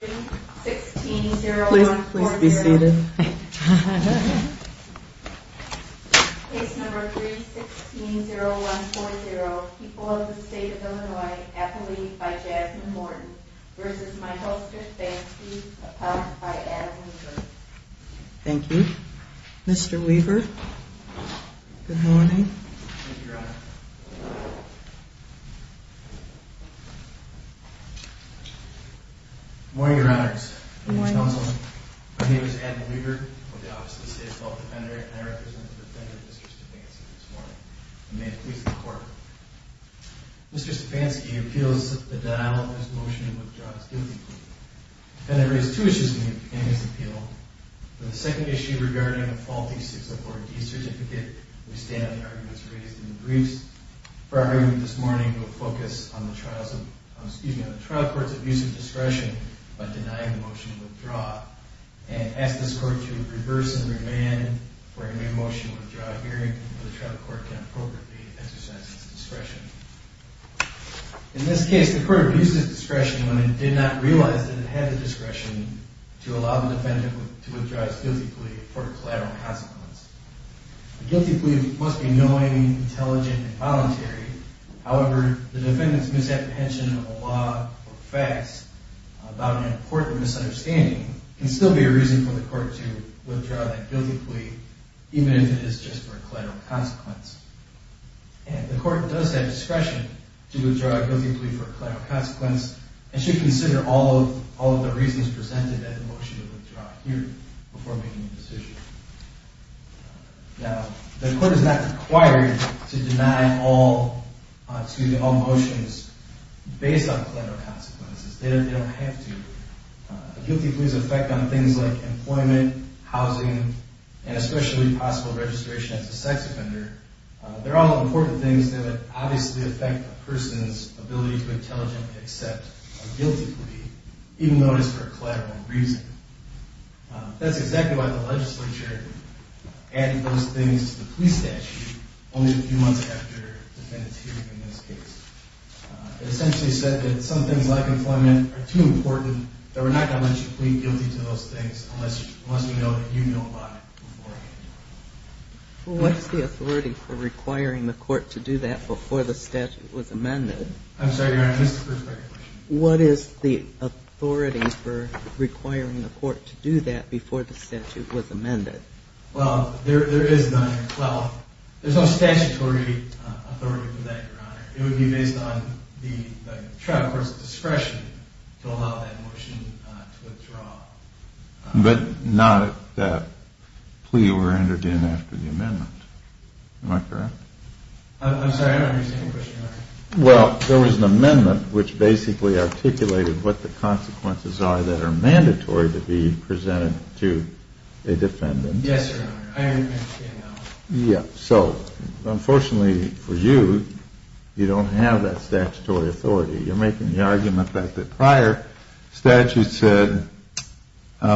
v. Michael Stefanski, appellant by Adam Weaver Mr. Stefanski appeals the denial of his motion to withdraw his guilty plea. Mr. Stefanski raises two issues in his appeal. The second issue regarding a faulty 604D certificate. We stand on the arguments raised in the briefs. For our argument this morning, we will focus on the trial court's abuse of discretion by denying the motion to withdraw. And ask this court to reverse and remand for a new motion to withdraw a hearing before the trial court can appropriately exercise its discretion. In this case, the court abuses discretion when it did not realize that it had the discretion to allow the defendant to withdraw his guilty plea for a collateral consequence. A guilty plea must be knowing, intelligent, and voluntary. However, the defendant's misapprehension of a law or facts about an important misunderstanding can still be a reason for the court to withdraw that guilty plea, even if it is just for a collateral consequence. And the court does have discretion to withdraw a guilty plea for a collateral consequence and should consider all of the reasons presented at the motion to withdraw hearing before making a decision. Now, the court is not required to deny all motions based on collateral consequences. They don't have to. A guilty plea's effect on things like employment, housing, and especially possible registration as a sex offender they're all important things that would obviously affect a person's ability to intelligently accept a guilty plea even though it is for a collateral reason. That's exactly why the legislature added those things to the plea statute only a few months after the defendant's hearing in this case. It essentially said that some things like employment are too important that we're not going to let you plead guilty to those things unless we know that you know about it beforehand. What's the authority for requiring the court to do that before the statute was amended? I'm sorry, Your Honor, that's the first part of your question. What is the authority for requiring the court to do that before the statute was amended? Well, there is none. Well, there's no statutory authority for that, Your Honor. It would be based on the trial court's discretion to allow that motion to withdraw. But not if that plea were entered in after the amendment. Am I correct? I'm sorry, I don't understand your question, Your Honor. Well, there was an amendment which basically articulated what the consequences are that are mandatory to be presented to a defendant. Yes, Your Honor, I understand that. Yeah, so unfortunately for you, you don't have that statutory authority. You're making the argument that the prior statute said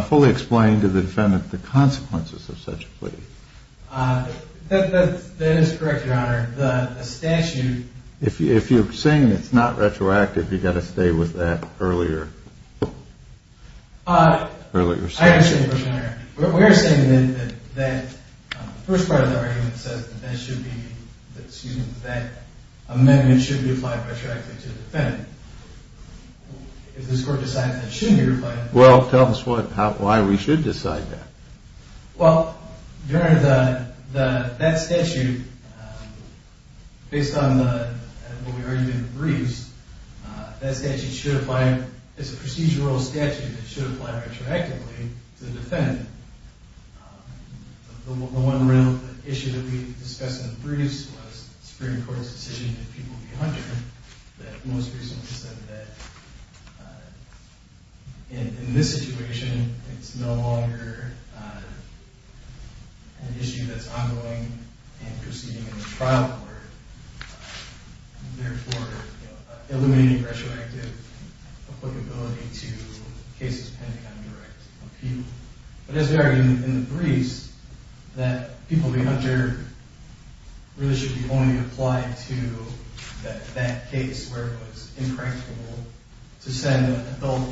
fully explain to the defendant the consequences of such a plea. That is correct, Your Honor. The statute... If you're saying it's not retroactive, you've got to stay with that earlier. I understand your question, Your Honor. We are saying that the first part of the argument says that that should be, excuse me, that that amendment should be applied retroactively to the defendant. If this court decides that it shouldn't be applied... Well, tell us why we should decide that. Well, Your Honor, that statute, based on what we argued in the briefs, that statute should apply, it's a procedural statute that should apply retroactively to the defendant. The one issue that we discussed in the briefs was the Supreme Court's decision that people be hunted, that most recently said that in this situation, it's no longer an issue that's ongoing and proceeding in the trial order, and therefore eliminating retroactive applicability to cases pending on direct appeal. But as we argued in the briefs, that people be hunted really should be only applied to that case where it was incorrectable to send adult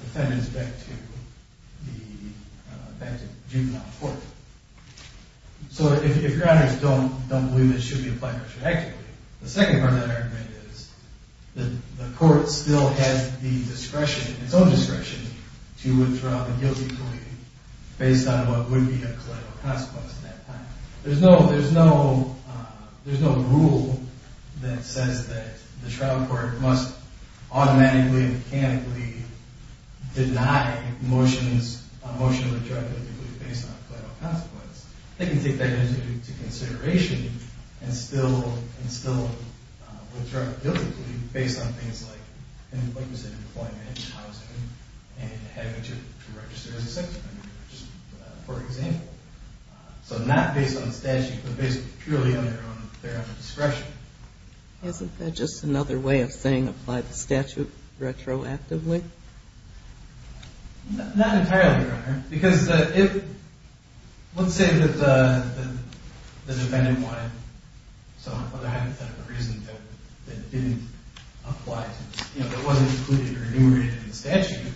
defendants back to the juvenile court. So if Your Honors don't believe that it should be applied retroactively, the second part of that argument is that the court still has the discretion, its own discretion, to withdraw the guilty plea based on what would be a collateral consequence at that time. There's no rule that says that the trial court must automatically and mechanically deny motions, a motion to withdraw the guilty plea based on collateral consequence. They can take that into consideration and still withdraw the guilty plea based on things like, like I said, employment and housing and having to register as a sex offender, for example. So not based on statute, but based purely on their own discretion. Isn't that just another way of saying apply the statute retroactively? Not entirely, Your Honor, because let's say that the defendant wanted some other hypothetical reason that didn't apply to, you know, that wasn't included or enumerated in the statute,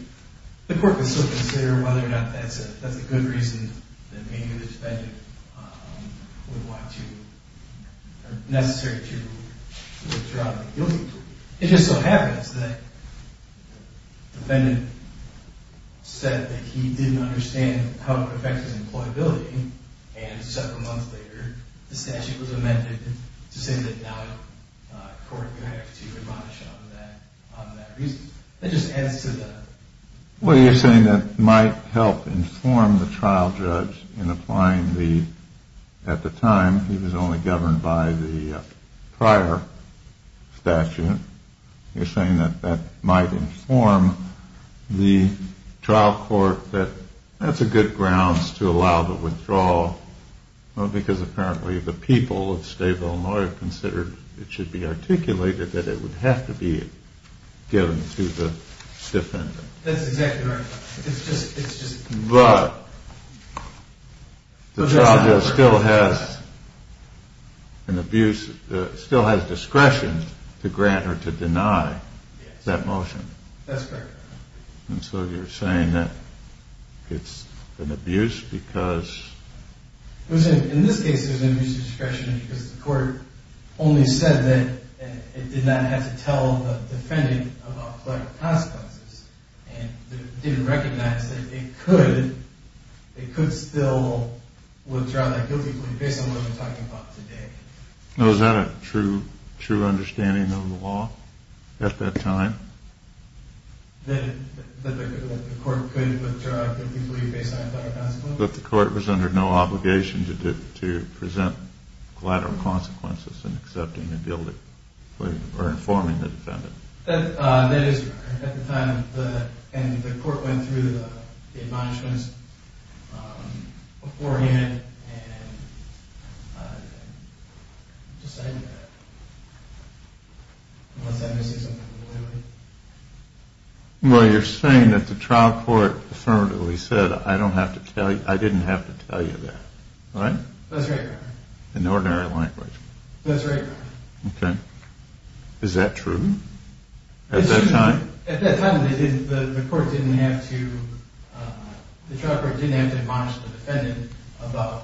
the court could still consider whether or not that's a good reason that maybe the defendant would want to, or necessary to withdraw the guilty plea. It just so happens that the defendant said that he didn't understand how it would affect his employability, and several months later the statute was amended to say that now the court would have to admonish him on that reason. That just adds to the... Well, you're saying that might help inform the trial judge in applying the, at the time, he was only governed by the prior statute. You're saying that that might inform the trial court that that's a good grounds to allow the withdrawal, because apparently the people of State of Illinois considered it should be articulated that it would have to be given to the defendant. That's exactly right. But the trial judge still has an abuse, still has discretion to grant or to deny that motion. That's correct. And so you're saying that it's an abuse because... In this case it was an abuse of discretion because the court only said that it did not have to tell the defendant about collateral consequences and didn't recognize that it could still withdraw that guilty plea based on what we're talking about today. Now is that a true understanding of the law at that time? That the court could withdraw a guilty plea based on collateral consequences? That the court was under no obligation to present collateral consequences in accepting a guilty plea or informing the defendant. That is correct. At the time, the court went through the admonishments beforehand and decided that unless that misses something, we'll do it. Well, you're saying that the trial court affirmatively said, I don't have to tell you, I didn't have to tell you that. Right? That's right, Your Honor. In ordinary language. That's right, Your Honor. Okay. Is that true? At that time? At that time, the court didn't have to... The trial court didn't have to admonish the defendant about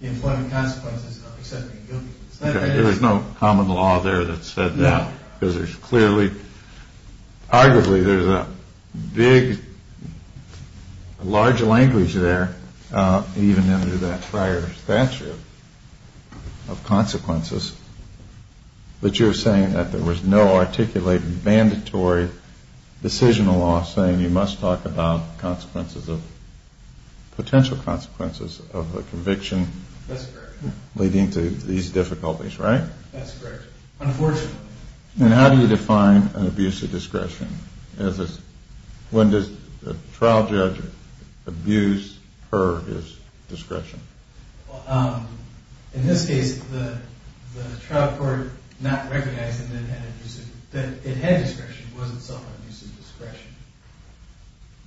the employment consequences of accepting a guilty plea. Okay, there was no common law there that said that. No. Because there's clearly, arguably, there's a big, large language there, even under that prior statute of consequences, that you're saying that there was no articulated, mandatory decisional law saying you must talk about consequences of, potential consequences of a conviction... That's correct. ...leading to these difficulties, right? That's correct. Unfortunately. And how do you define an abuse of discretion? When does a trial judge abuse per his discretion? In this case, the trial court not recognizing that it had discretion wasn't self-abuse of discretion.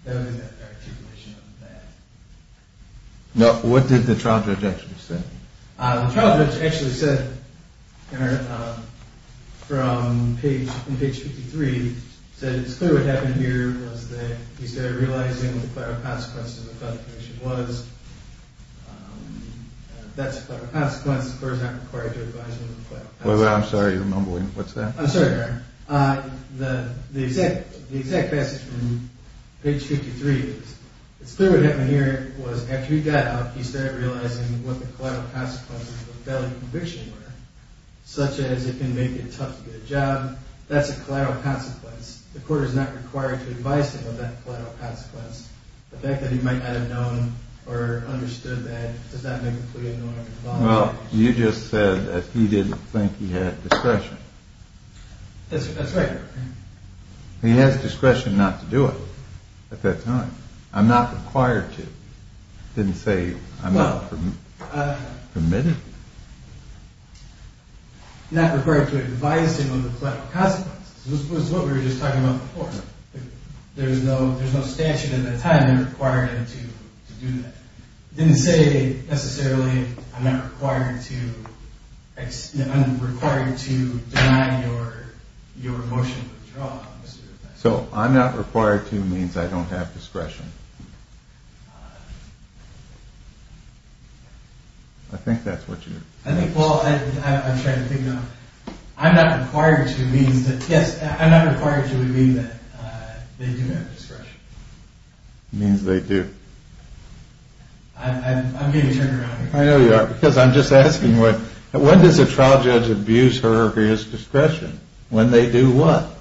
There was an articulation of that. Now, what did the trial judge actually say? The trial judge actually said, from page 53, said, it's clear what happened here was that he started realizing what the collateral consequences of a conviction was. That's a collateral consequence. The court is not required to advise on the collateral consequences. Wait, wait, I'm sorry. You're mumbling. What's that? I'm sorry, Your Honor. The exact passage from page 53 is, it's clear what happened here was, after he got out, he started realizing what the collateral consequences of a felony conviction were, such as it can make it tough to get a job. That's a collateral consequence. The court is not required to advise him of that collateral consequence. The fact that he might not have known or understood that does not make it clear... Well, you just said that he didn't think he had discretion. That's right, Your Honor. He has discretion not to do it at that time. I'm not required to. It didn't say I'm not permitted. Not required to advise him of the collateral consequences. It was what we were just talking about before. There's no statute at that time that required him to do that. It didn't say, necessarily, I'm not required to deny your motion of withdrawal. So, I'm not required to means I don't have discretion. I think that's what you... I think, well, I'm trying to figure out... I'm not required to means that... Yes, I'm not required to mean that they do have discretion. It means they do. I'm getting turned around here. I know you are, because I'm just asking, when does a trial judge abuse her or his discretion? When they do what?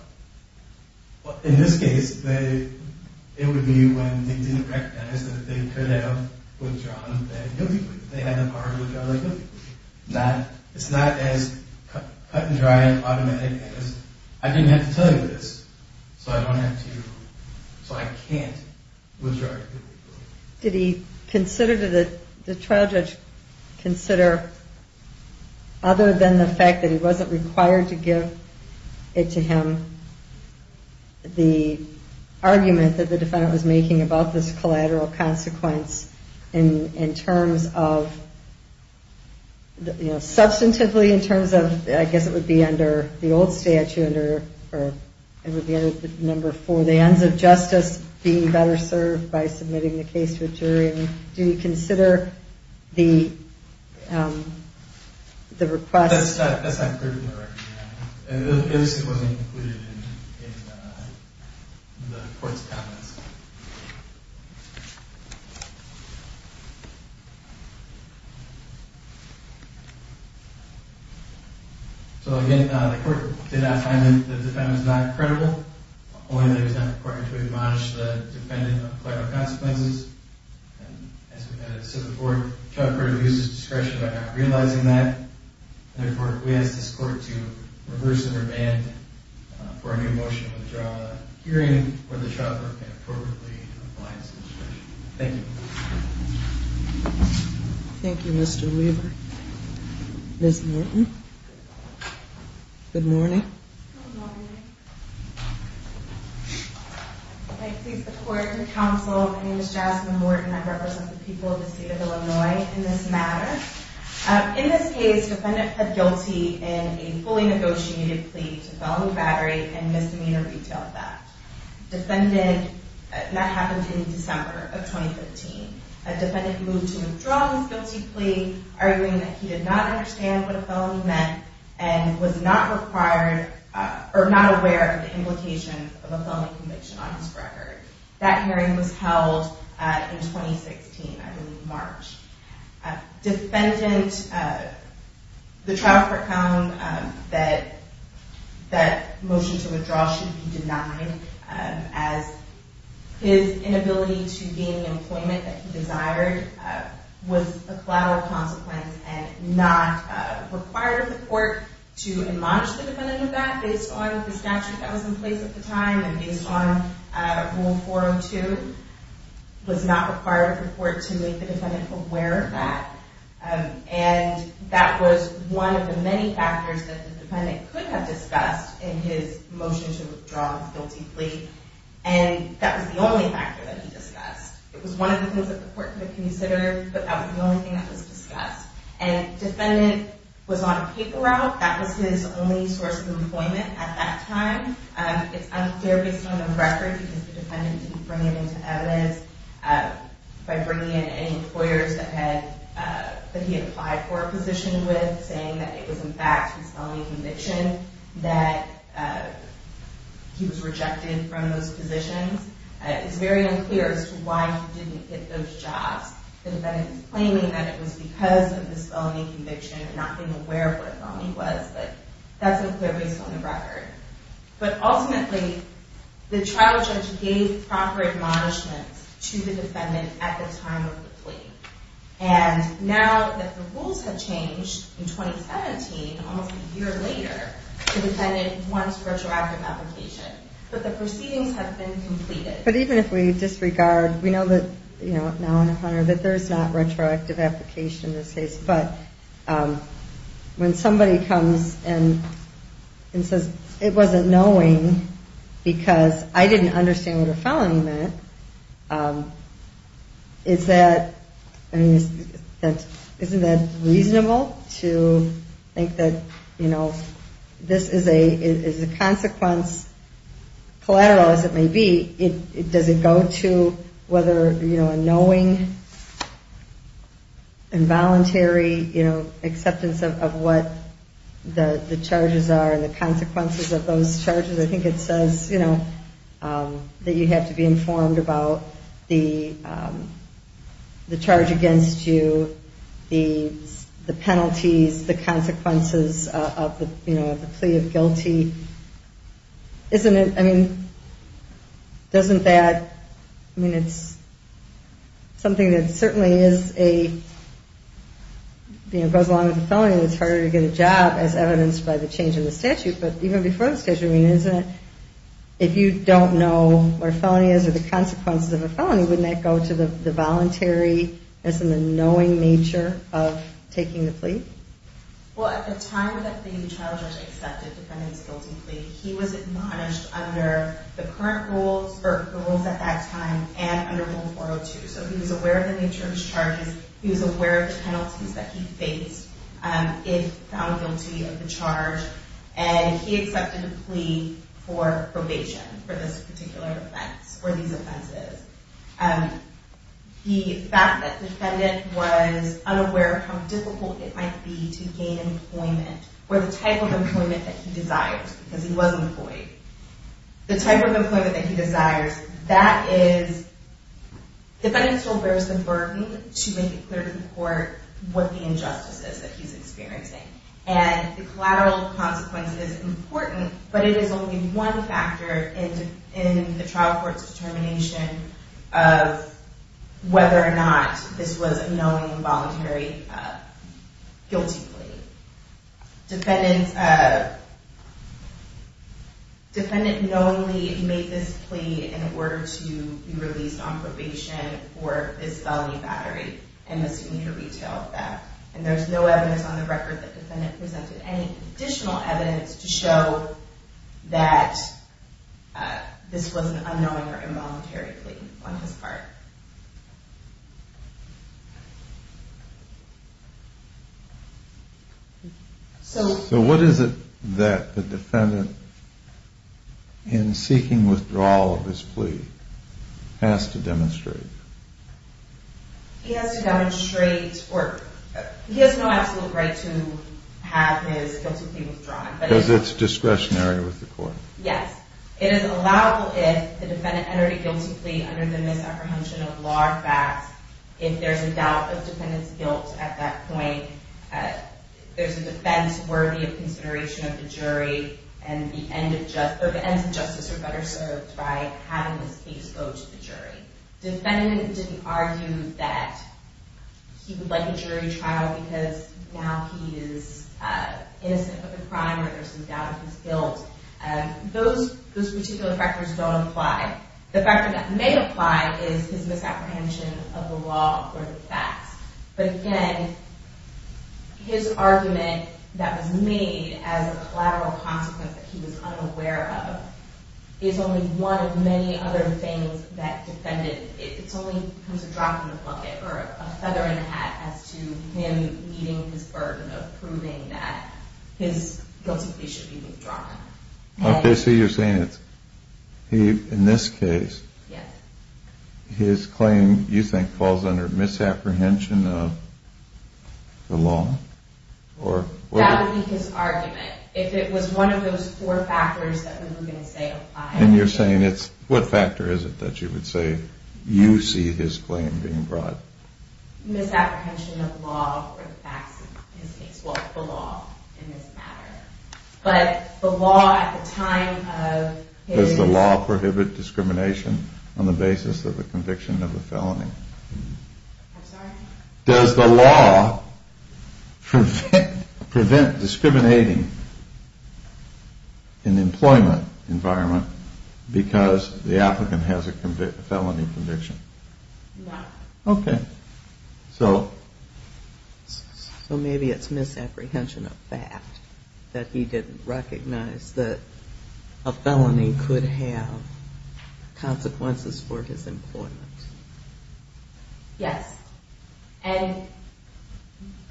In this case, it would be when they didn't recognize that they could have withdrawn that guilty plea. They had the power to withdraw that guilty plea. It's not as cut and dry and automatic as, I didn't have to tell you this, so I don't have to, so I can't withdraw your guilty plea. Did he consider, did the trial judge consider, other than the fact that he wasn't required to give it to him, the argument that the defendant was making about this collateral consequence in terms of, you know, substantively in terms of, I guess it would be under the old statute, or it would be under number four, so the ends of justice being better served by submitting the case to a jury. Do you consider the request... That's not critical. It just wasn't included in the court's comments. So again, the court did not find that the defendant is not credible, only that it was not important to admonish the defendant of collateral consequences. And as we've said before, the trial court abuses discretion by not realizing that. Therefore, we ask this court to reverse and remand for a new motion to withdraw the hearing where the trial court can approve. Thank you. Thank you, Mr. Weaver. Ms. Morton. Good morning. Good morning. May it please the court and counsel, my name is Jasmine Morton. I represent the people of the state of Illinois in this matter. In this case, the defendant pled guilty in a fully negotiated plea to felony battery and misdemeanor retail theft. Defendant... That happened in December of 2015. A defendant moved to withdraw his guilty plea, arguing that he did not understand what a felony meant and was not aware of the implications of a felony conviction on his record. That hearing was held in 2016, I believe, March. Defendant... The trial court found that that motion to withdraw should be denied as his inability to gain the employment that he desired was a collateral consequence and not required of the court to admonish the defendant of that based on the statute that was in place at the time and based on Rule 402, was not required of the court to make the defendant aware of that. And that was one of the many factors that the defendant could have discussed in his motion to withdraw his guilty plea, and that was the only factor that he discussed. It was one of the things that the court could have considered, but that was the only thing that was discussed. And defendant was on a paper route. That was his only source of employment at that time. It's unfair based on the record because the defendant didn't bring it into evidence by bringing in any employers that he had applied for a position with, saying that it was, in fact, his felony conviction, that he was rejected from those positions. It's very unclear as to why he didn't get those jobs. The defendant is claiming that it was because of this felony conviction and not being aware of what a felony was, but that's unclear based on the record. But ultimately, the trial judge gave proper admonishments to the defendant at the time of the plea. And now that the rules have changed in 2017, almost a year later, the defendant wants retroactive application. But the proceedings have been completed. But even if we disregard, we know that, you know, now and a hundred, that there's not retroactive application in this case. But when somebody comes and says it wasn't knowing because I didn't understand what a felony meant, isn't that reasonable to think that, you know, this is a consequence, collateral as it may be, does it go to whether, you know, a knowing involuntary acceptance of what the charges are and the consequences of those charges? I think it says, you know, that you have to be informed about the charge against you, the penalties, the consequences of the plea of guilty. Isn't it, I mean, doesn't that, I mean, it's something that certainly is a, you know, goes along with a felony and it's harder to get a job as evidenced by the change in the statute. But even before the statute, I mean, isn't it, if you don't know where a felony is or the consequences of a felony, wouldn't that go to the voluntary, isn't the knowing nature of taking the plea? Well, at the time that the child judge accepted the defendant's guilty plea, he was admonished under the current rules or the rules at that time and under Rule 402. So he was aware of the nature of his charges. He was aware of the penalties that he faced if found guilty of the charge. And he accepted a plea for probation for this particular offense or these offenses. The fact that the defendant was unaware of how difficult it might be to gain employment or the type of employment that he desired, because he was employed, the type of employment that he desires, that is, the defendant still bears the burden to make it clear to the court what the injustice is that he's experiencing. And the collateral consequence is important, but it is only one factor in the trial court's determination of whether or not this was a knowing, voluntary, guilty plea. Defendant knowingly made this plea in order to be released on probation for this felony battery and misdemeanor retail theft. And there's no evidence on the record that the defendant presented any additional evidence to show that this was an unknowing or involuntary plea on his part. So what is it that the defendant, in seeking withdrawal of his plea, has to demonstrate? He has to demonstrate, or he has no absolute right to have his guilty plea withdrawn. Because it's discretionary with the court? Yes. It is allowable if the defendant entered a guilty plea under the misapprehension of law or facts, if there's a doubt of defendant's guilt at that point, there's a defense worthy of consideration of the jury, and the ends of justice are better served by having the case go to the jury. Defendant didn't argue that he would like a jury trial because now he is innocent of a crime or there's some doubt of his guilt. Those particular factors don't apply. The factor that may apply is his misapprehension of the law or the facts. But again, his argument that was made as a collateral consequence that he was unaware of is only one of many other things that the defendant, it only becomes a drop in the bucket or a feather in the hat as to him meeting his burden of proving that his guilty plea should be withdrawn. Okay, so you're saying in this case, his claim, you think, falls under misapprehension of the law? That would be his argument. If it was one of those four factors that we were going to say apply. And you're saying it's, what factor is it that you would say you see his claim being brought? Misapprehension of the law or the facts in this case. Well, the law in this matter. But the law at the time of his... Does the law prohibit discrimination on the basis of the conviction of the felony? I'm sorry? Does the law prevent discriminating in the employment environment because the applicant has a felony conviction? No. Okay, so... So maybe it's misapprehension of fact that he didn't recognize that a felony could have consequences for his employment. Yes. And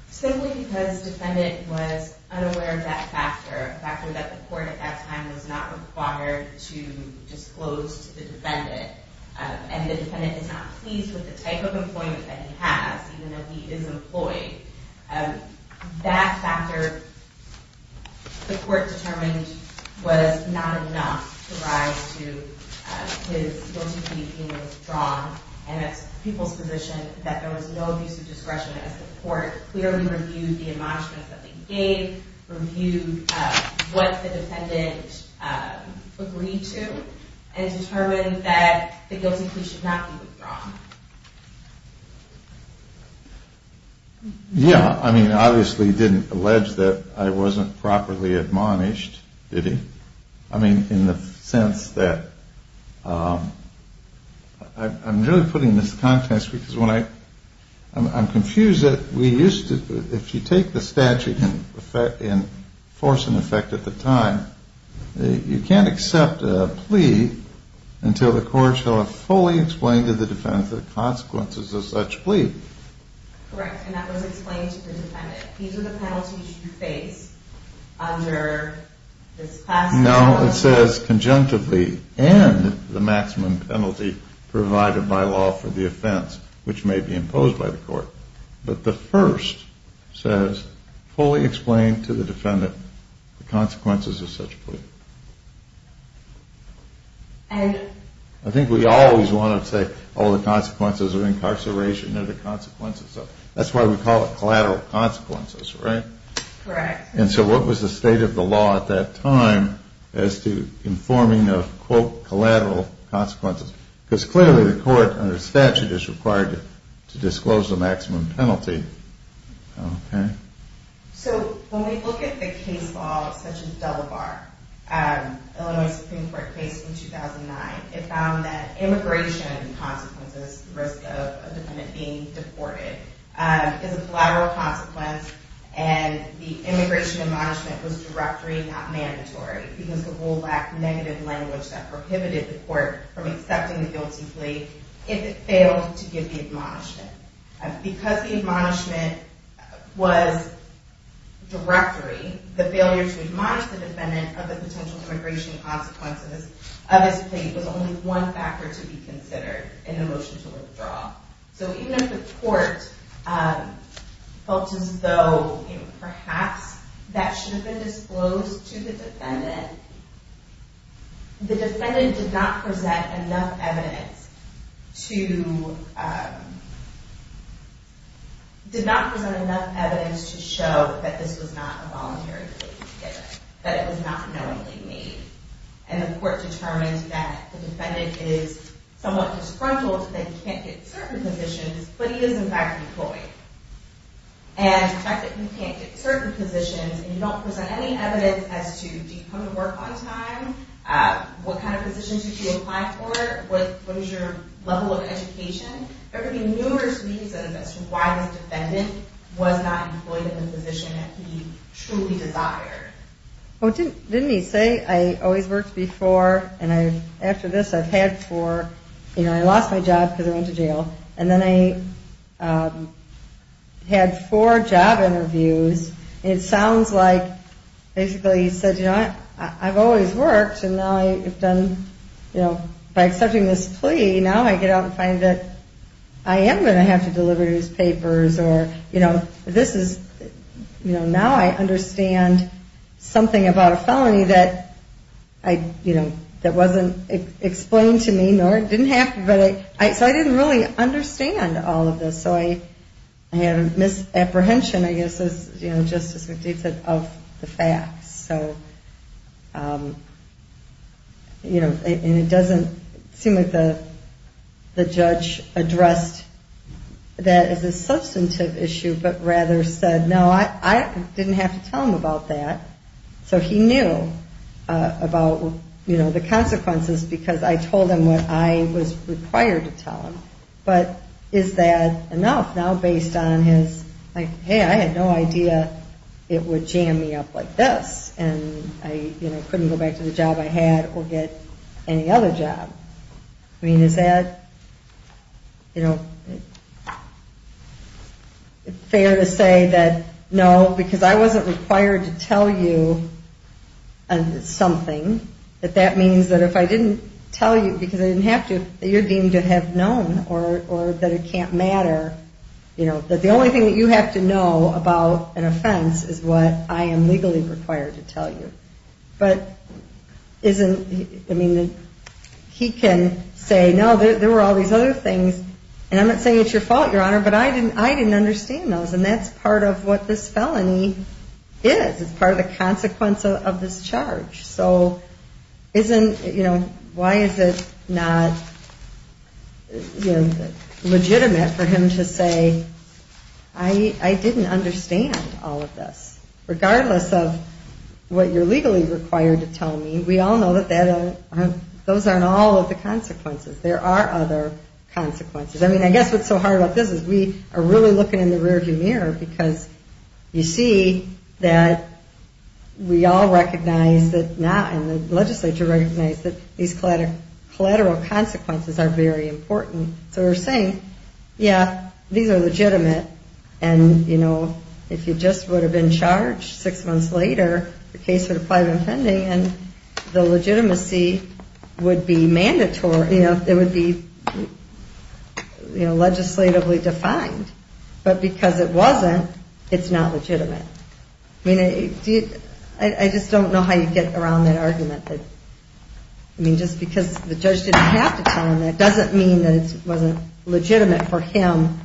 simply because defendant was unaware of that factor, a factor that the court at that time was not required to disclose to the defendant, and the defendant is not pleased with the type of employment that he has, even though he is employed, that factor, the court determined, was not enough to rise to his guilty plea being withdrawn. And it's people's position that there was no abuse of discretion as the court clearly reviewed the admonishments that they gave, reviewed what the defendant agreed to, and determined that the guilty plea should not be withdrawn. Yeah. I mean, obviously he didn't allege that I wasn't properly admonished, did he? I mean, in the sense that... I'm really putting this to context because when I... I'm confused that we used to... If you take the statute in force and effect at the time, you can't accept a plea until the court shall have fully explained to the defendant the consequences of such plea. Correct. And that was explained to the defendant. These are the penalties you face under this past... No, it says conjunctively, and the maximum penalty provided by law for the offense, which may be imposed by the court. But the first says, fully explain to the defendant the consequences of such plea. And... I think we always want to say, all the consequences of incarceration are the consequences of... That's why we call it collateral consequences, right? Correct. And so what was the state of the law at that time as to informing of, quote, collateral consequences? Because clearly the court under statute is required to disclose the maximum penalty. Okay. So when we look at the case law, such as Delaware, Illinois Supreme Court case in 2009, it found that immigration consequences, the risk of a defendant being deported, is a collateral consequence, and the immigration admonishment was directory, not mandatory, because the rule lacked negative language that prohibited the court from accepting the guilty plea if it failed to give the admonishment. Because the admonishment was directory, the failure to admonish the defendant of the potential immigration consequences of his plea was only one factor to be considered in the motion to withdraw. So even if the court felt as though, perhaps that should have been disclosed to the defendant, the defendant did not present enough evidence to show that this was not a voluntary plea. That it was not knowingly made. And the court determined that the defendant is somewhat disgruntled that he can't get certain positions, but he is, in fact, deployed. And the fact that he can't get certain positions and you don't present any evidence as to, do you come to work on time? What kind of positions did you apply for? What is your level of education? There could be numerous reasons as to why this defendant was not employed in the position that he truly desired. Well, didn't he say, I always worked before, and after this I've had four, you know, I lost my job because I went to jail, and then I had four job interviews, and it sounds like basically he said, you know, I've always worked, and now I've done, you know, by accepting this plea, now I get out and find that I am going to have to deliver these papers, or, you know, this is, you know, now I understand something about a felony that I, you know, that wasn't explained to me, nor it didn't have to, but I, so I didn't really understand all of this, so I had a misapprehension, I guess, as, you know, Justice McDade said, of the facts, so, you know, and it doesn't seem like the judge addressed that as a substantive issue, but rather said, no, I didn't have to tell him about that, so he knew about, you know, the consequences, because I told him what I was required to tell him, but is that enough now based on his, like, it would jam me up like this, and I, you know, couldn't go back to the job I had or get any other job? I mean, is that, you know, fair to say that no, because I wasn't required to tell you something, that that means that if I didn't tell you, because I didn't have to, that you're deemed to have known, or that it can't matter, you know, that the only thing that you have to know about an offense is what I am legally required to tell you, but isn't, I mean, he can say, no, there were all these other things, and I'm not saying it's your fault, Your Honor, but I didn't understand those, and that's part of what this felony is. It's part of the consequence of this charge, so isn't, you know, why is it not, you know, legitimate for him to say, I didn't understand all of this, regardless of what you're legally required to tell me. We all know that those aren't all of the consequences. There are other consequences. I mean, I guess what's so hard about this is we are really looking in the rear view mirror because you see that we all recognize that, and the legislature recognizes that these collateral consequences are very important, so we're saying, yeah, these are legitimate, and, you know, if you just would have been charged six months later, the case would have probably been pending, and the legitimacy would be mandatory, you know, it would be legislatively defined, but because it wasn't, it's not legitimate. I mean, I just don't know how you get around that argument. I mean, just because the judge didn't have to tell him that doesn't mean that it wasn't legitimate for him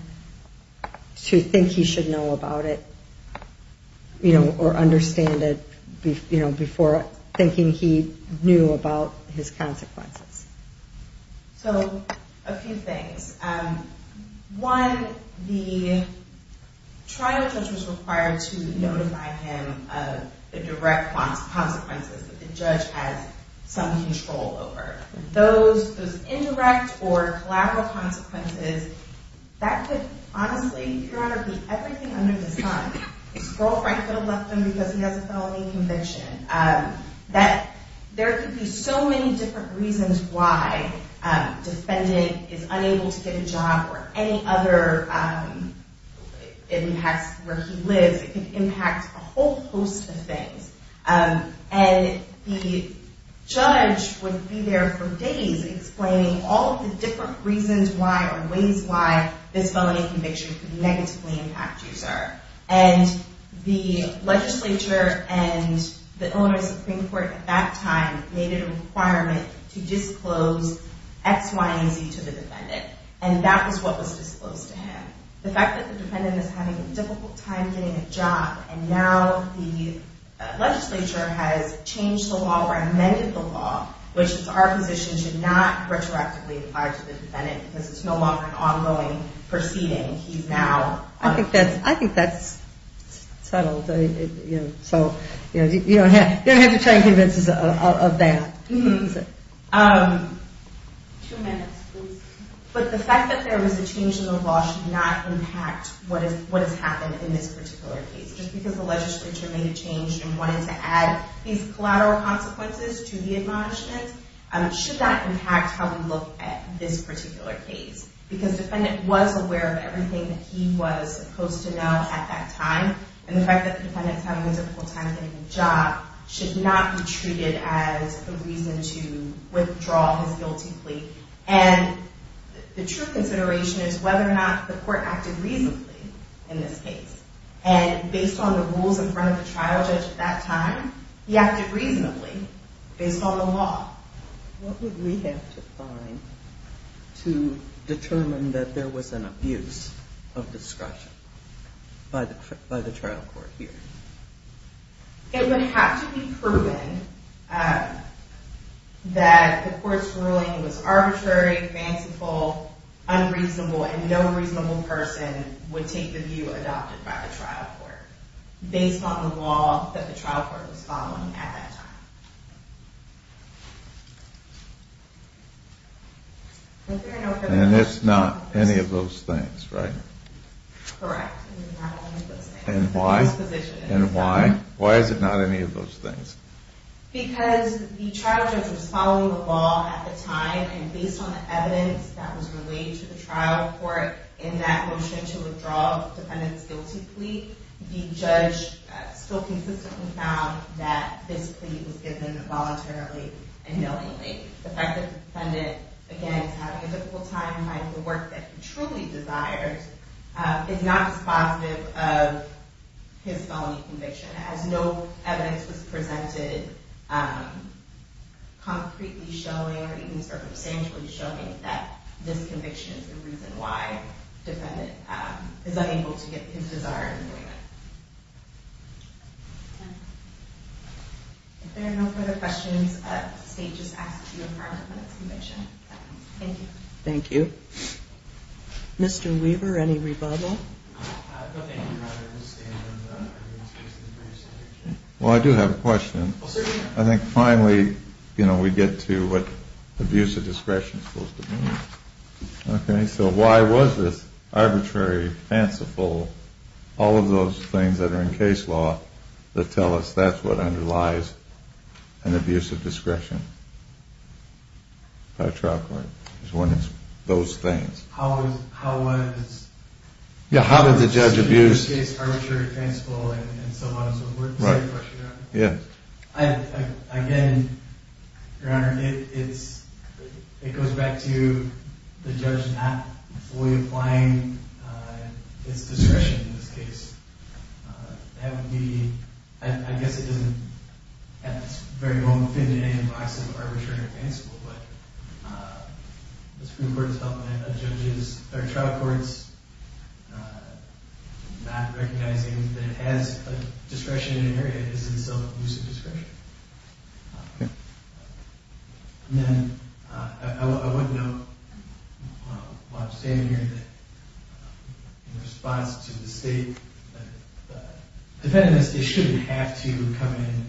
to think he should know about it, you know, or understand it, you know, before thinking he knew about his consequences. So, a few things. One, the trial judge was required to notify him of the direct consequences that the judge has some control over. Those indirect or collateral consequences, that could honestly, periodically, everything under the sun. His girlfriend could have left him because he has a felony conviction. There could be so many different reasons why a defendant is unable to get a job or any other impacts where he lives. It could impact a whole host of things. And the judge would be there for days explaining all of the different reasons why or ways why this felony conviction could negatively impact you, sir. And the legislature and the Illinois Supreme Court at that time made it a requirement to disclose X, Y, and Z to the defendant. And that was what was disclosed to him. The fact that the defendant is having a difficult time getting a job and now the legislature has changed the law or amended the law, which is our position, should not retroactively apply to the defendant because it's no longer an ongoing proceeding. He's now... I think that's settled. So you don't have to try and convince us of that. Two minutes, please. But the fact that there was a change in the law should not impact what has happened in this particular case. Just because the legislature made a change and wanted to add these collateral consequences to the admonishments should not impact how we look at this particular case. Because the defendant was aware of everything that he was supposed to know at that time. And the fact that the defendant is having a difficult time getting a job should not be treated as a reason to withdraw his guilty plea. And the true consideration is whether or not the court acted reasonably in this case. And based on the rules in front of the trial judge at that time, he acted reasonably based on the law. What would we have to find to determine that there was an abuse of discretion by the trial court here? It would have to be proven that the court's ruling was arbitrary, fanciful, unreasonable, and no reasonable person would take the view adopted by the trial court based on the law that the trial court was following at that time. And it's not any of those things, right? Correct. It's not any of those things. And why? Why is it not any of those things? Because the trial judge was following the law at the time and based on the evidence that was relayed to the trial court in that motion to withdraw the defendant's guilty plea, the judge still consistently found that this plea was given voluntarily and knowingly. The fact that the defendant, again, is having a difficult time finding the work that he truly desires is not dispositive of his felony conviction. As no evidence was presented concretely showing, or even circumstantially showing, that this conviction is the reason why the defendant is unable to get his desire in the way. If there are no further questions, the stage is asked to be adjourned on this conviction. Thank you. Thank you. Mr. Weaver, any rebuttal? No, thank you. Well, I do have a question. Oh, certainly. I think finally, you know, we get to what abuse of discretion is supposed to be. Okay, so why was this arbitrary, fanciful, all of those things that are in case law that tell us that's what underlies an abuse of discretion by a trial court? It's one of those things. How was... Yeah, how did the judge abuse... ...the case arbitrary, fanciful, and so on and so forth? Right. I have a question, Your Honor. Yeah. Again, Your Honor, it goes back to the judge not fully applying his discretion in this case. That would be... I guess it doesn't at this very moment fit into any of the boxes of arbitrary or fanciful, but the Supreme Court is helping a judge's... or a trial court's not recognizing that it has a discretion in an area that is in self-abuse of discretion. Okay. And then I want to note while I'm standing here that in response to the State, the defendants shouldn't have to come in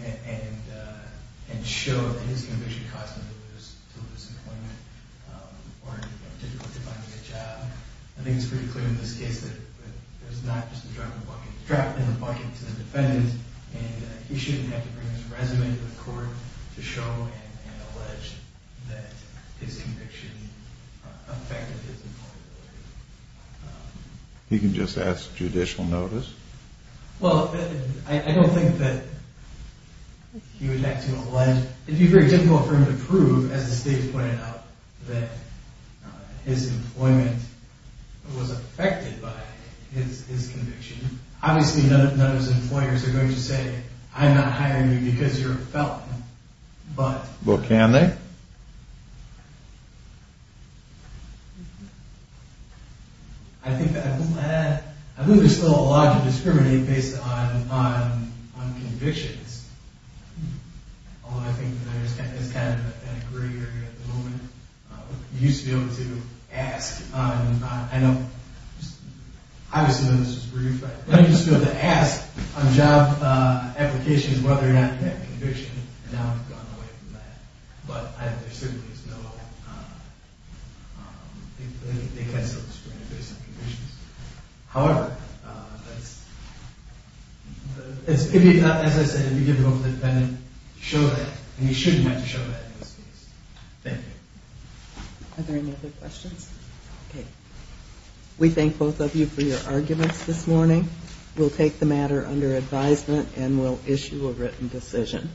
and show that his conviction caused them to lose employment or difficulty finding a job. I think it's pretty clear in this case that there's not just a drop in the bucket. He's dropped in the bucket to the defendants, and he shouldn't have to bring his resume to the court to show and allege that his conviction affected his employability. He can just ask judicial notice? Well, I don't think that he would have to allege... It would be very difficult for him to prove, as the State has pointed out, that his employment was affected by his conviction. Obviously, none of those employers are going to say, I'm not hiring you because you're a felon, but... Well, can they? I think there's still a lot to discriminate based on convictions. Although I think there's kind of a gray area at the moment. You used to be able to ask on... I know, obviously this was brief, but you used to be able to ask on job applications whether or not you had a conviction, and now we've gone away from that. But there certainly is no... They can still discriminate based on convictions. However, that's... As I said, it would be difficult for the defendant to show that, and he shouldn't have to show that in this case. Thank you. Are there any other questions? We thank both of you for your arguments this morning. We'll take the matter under advisement, and we'll issue a written decision.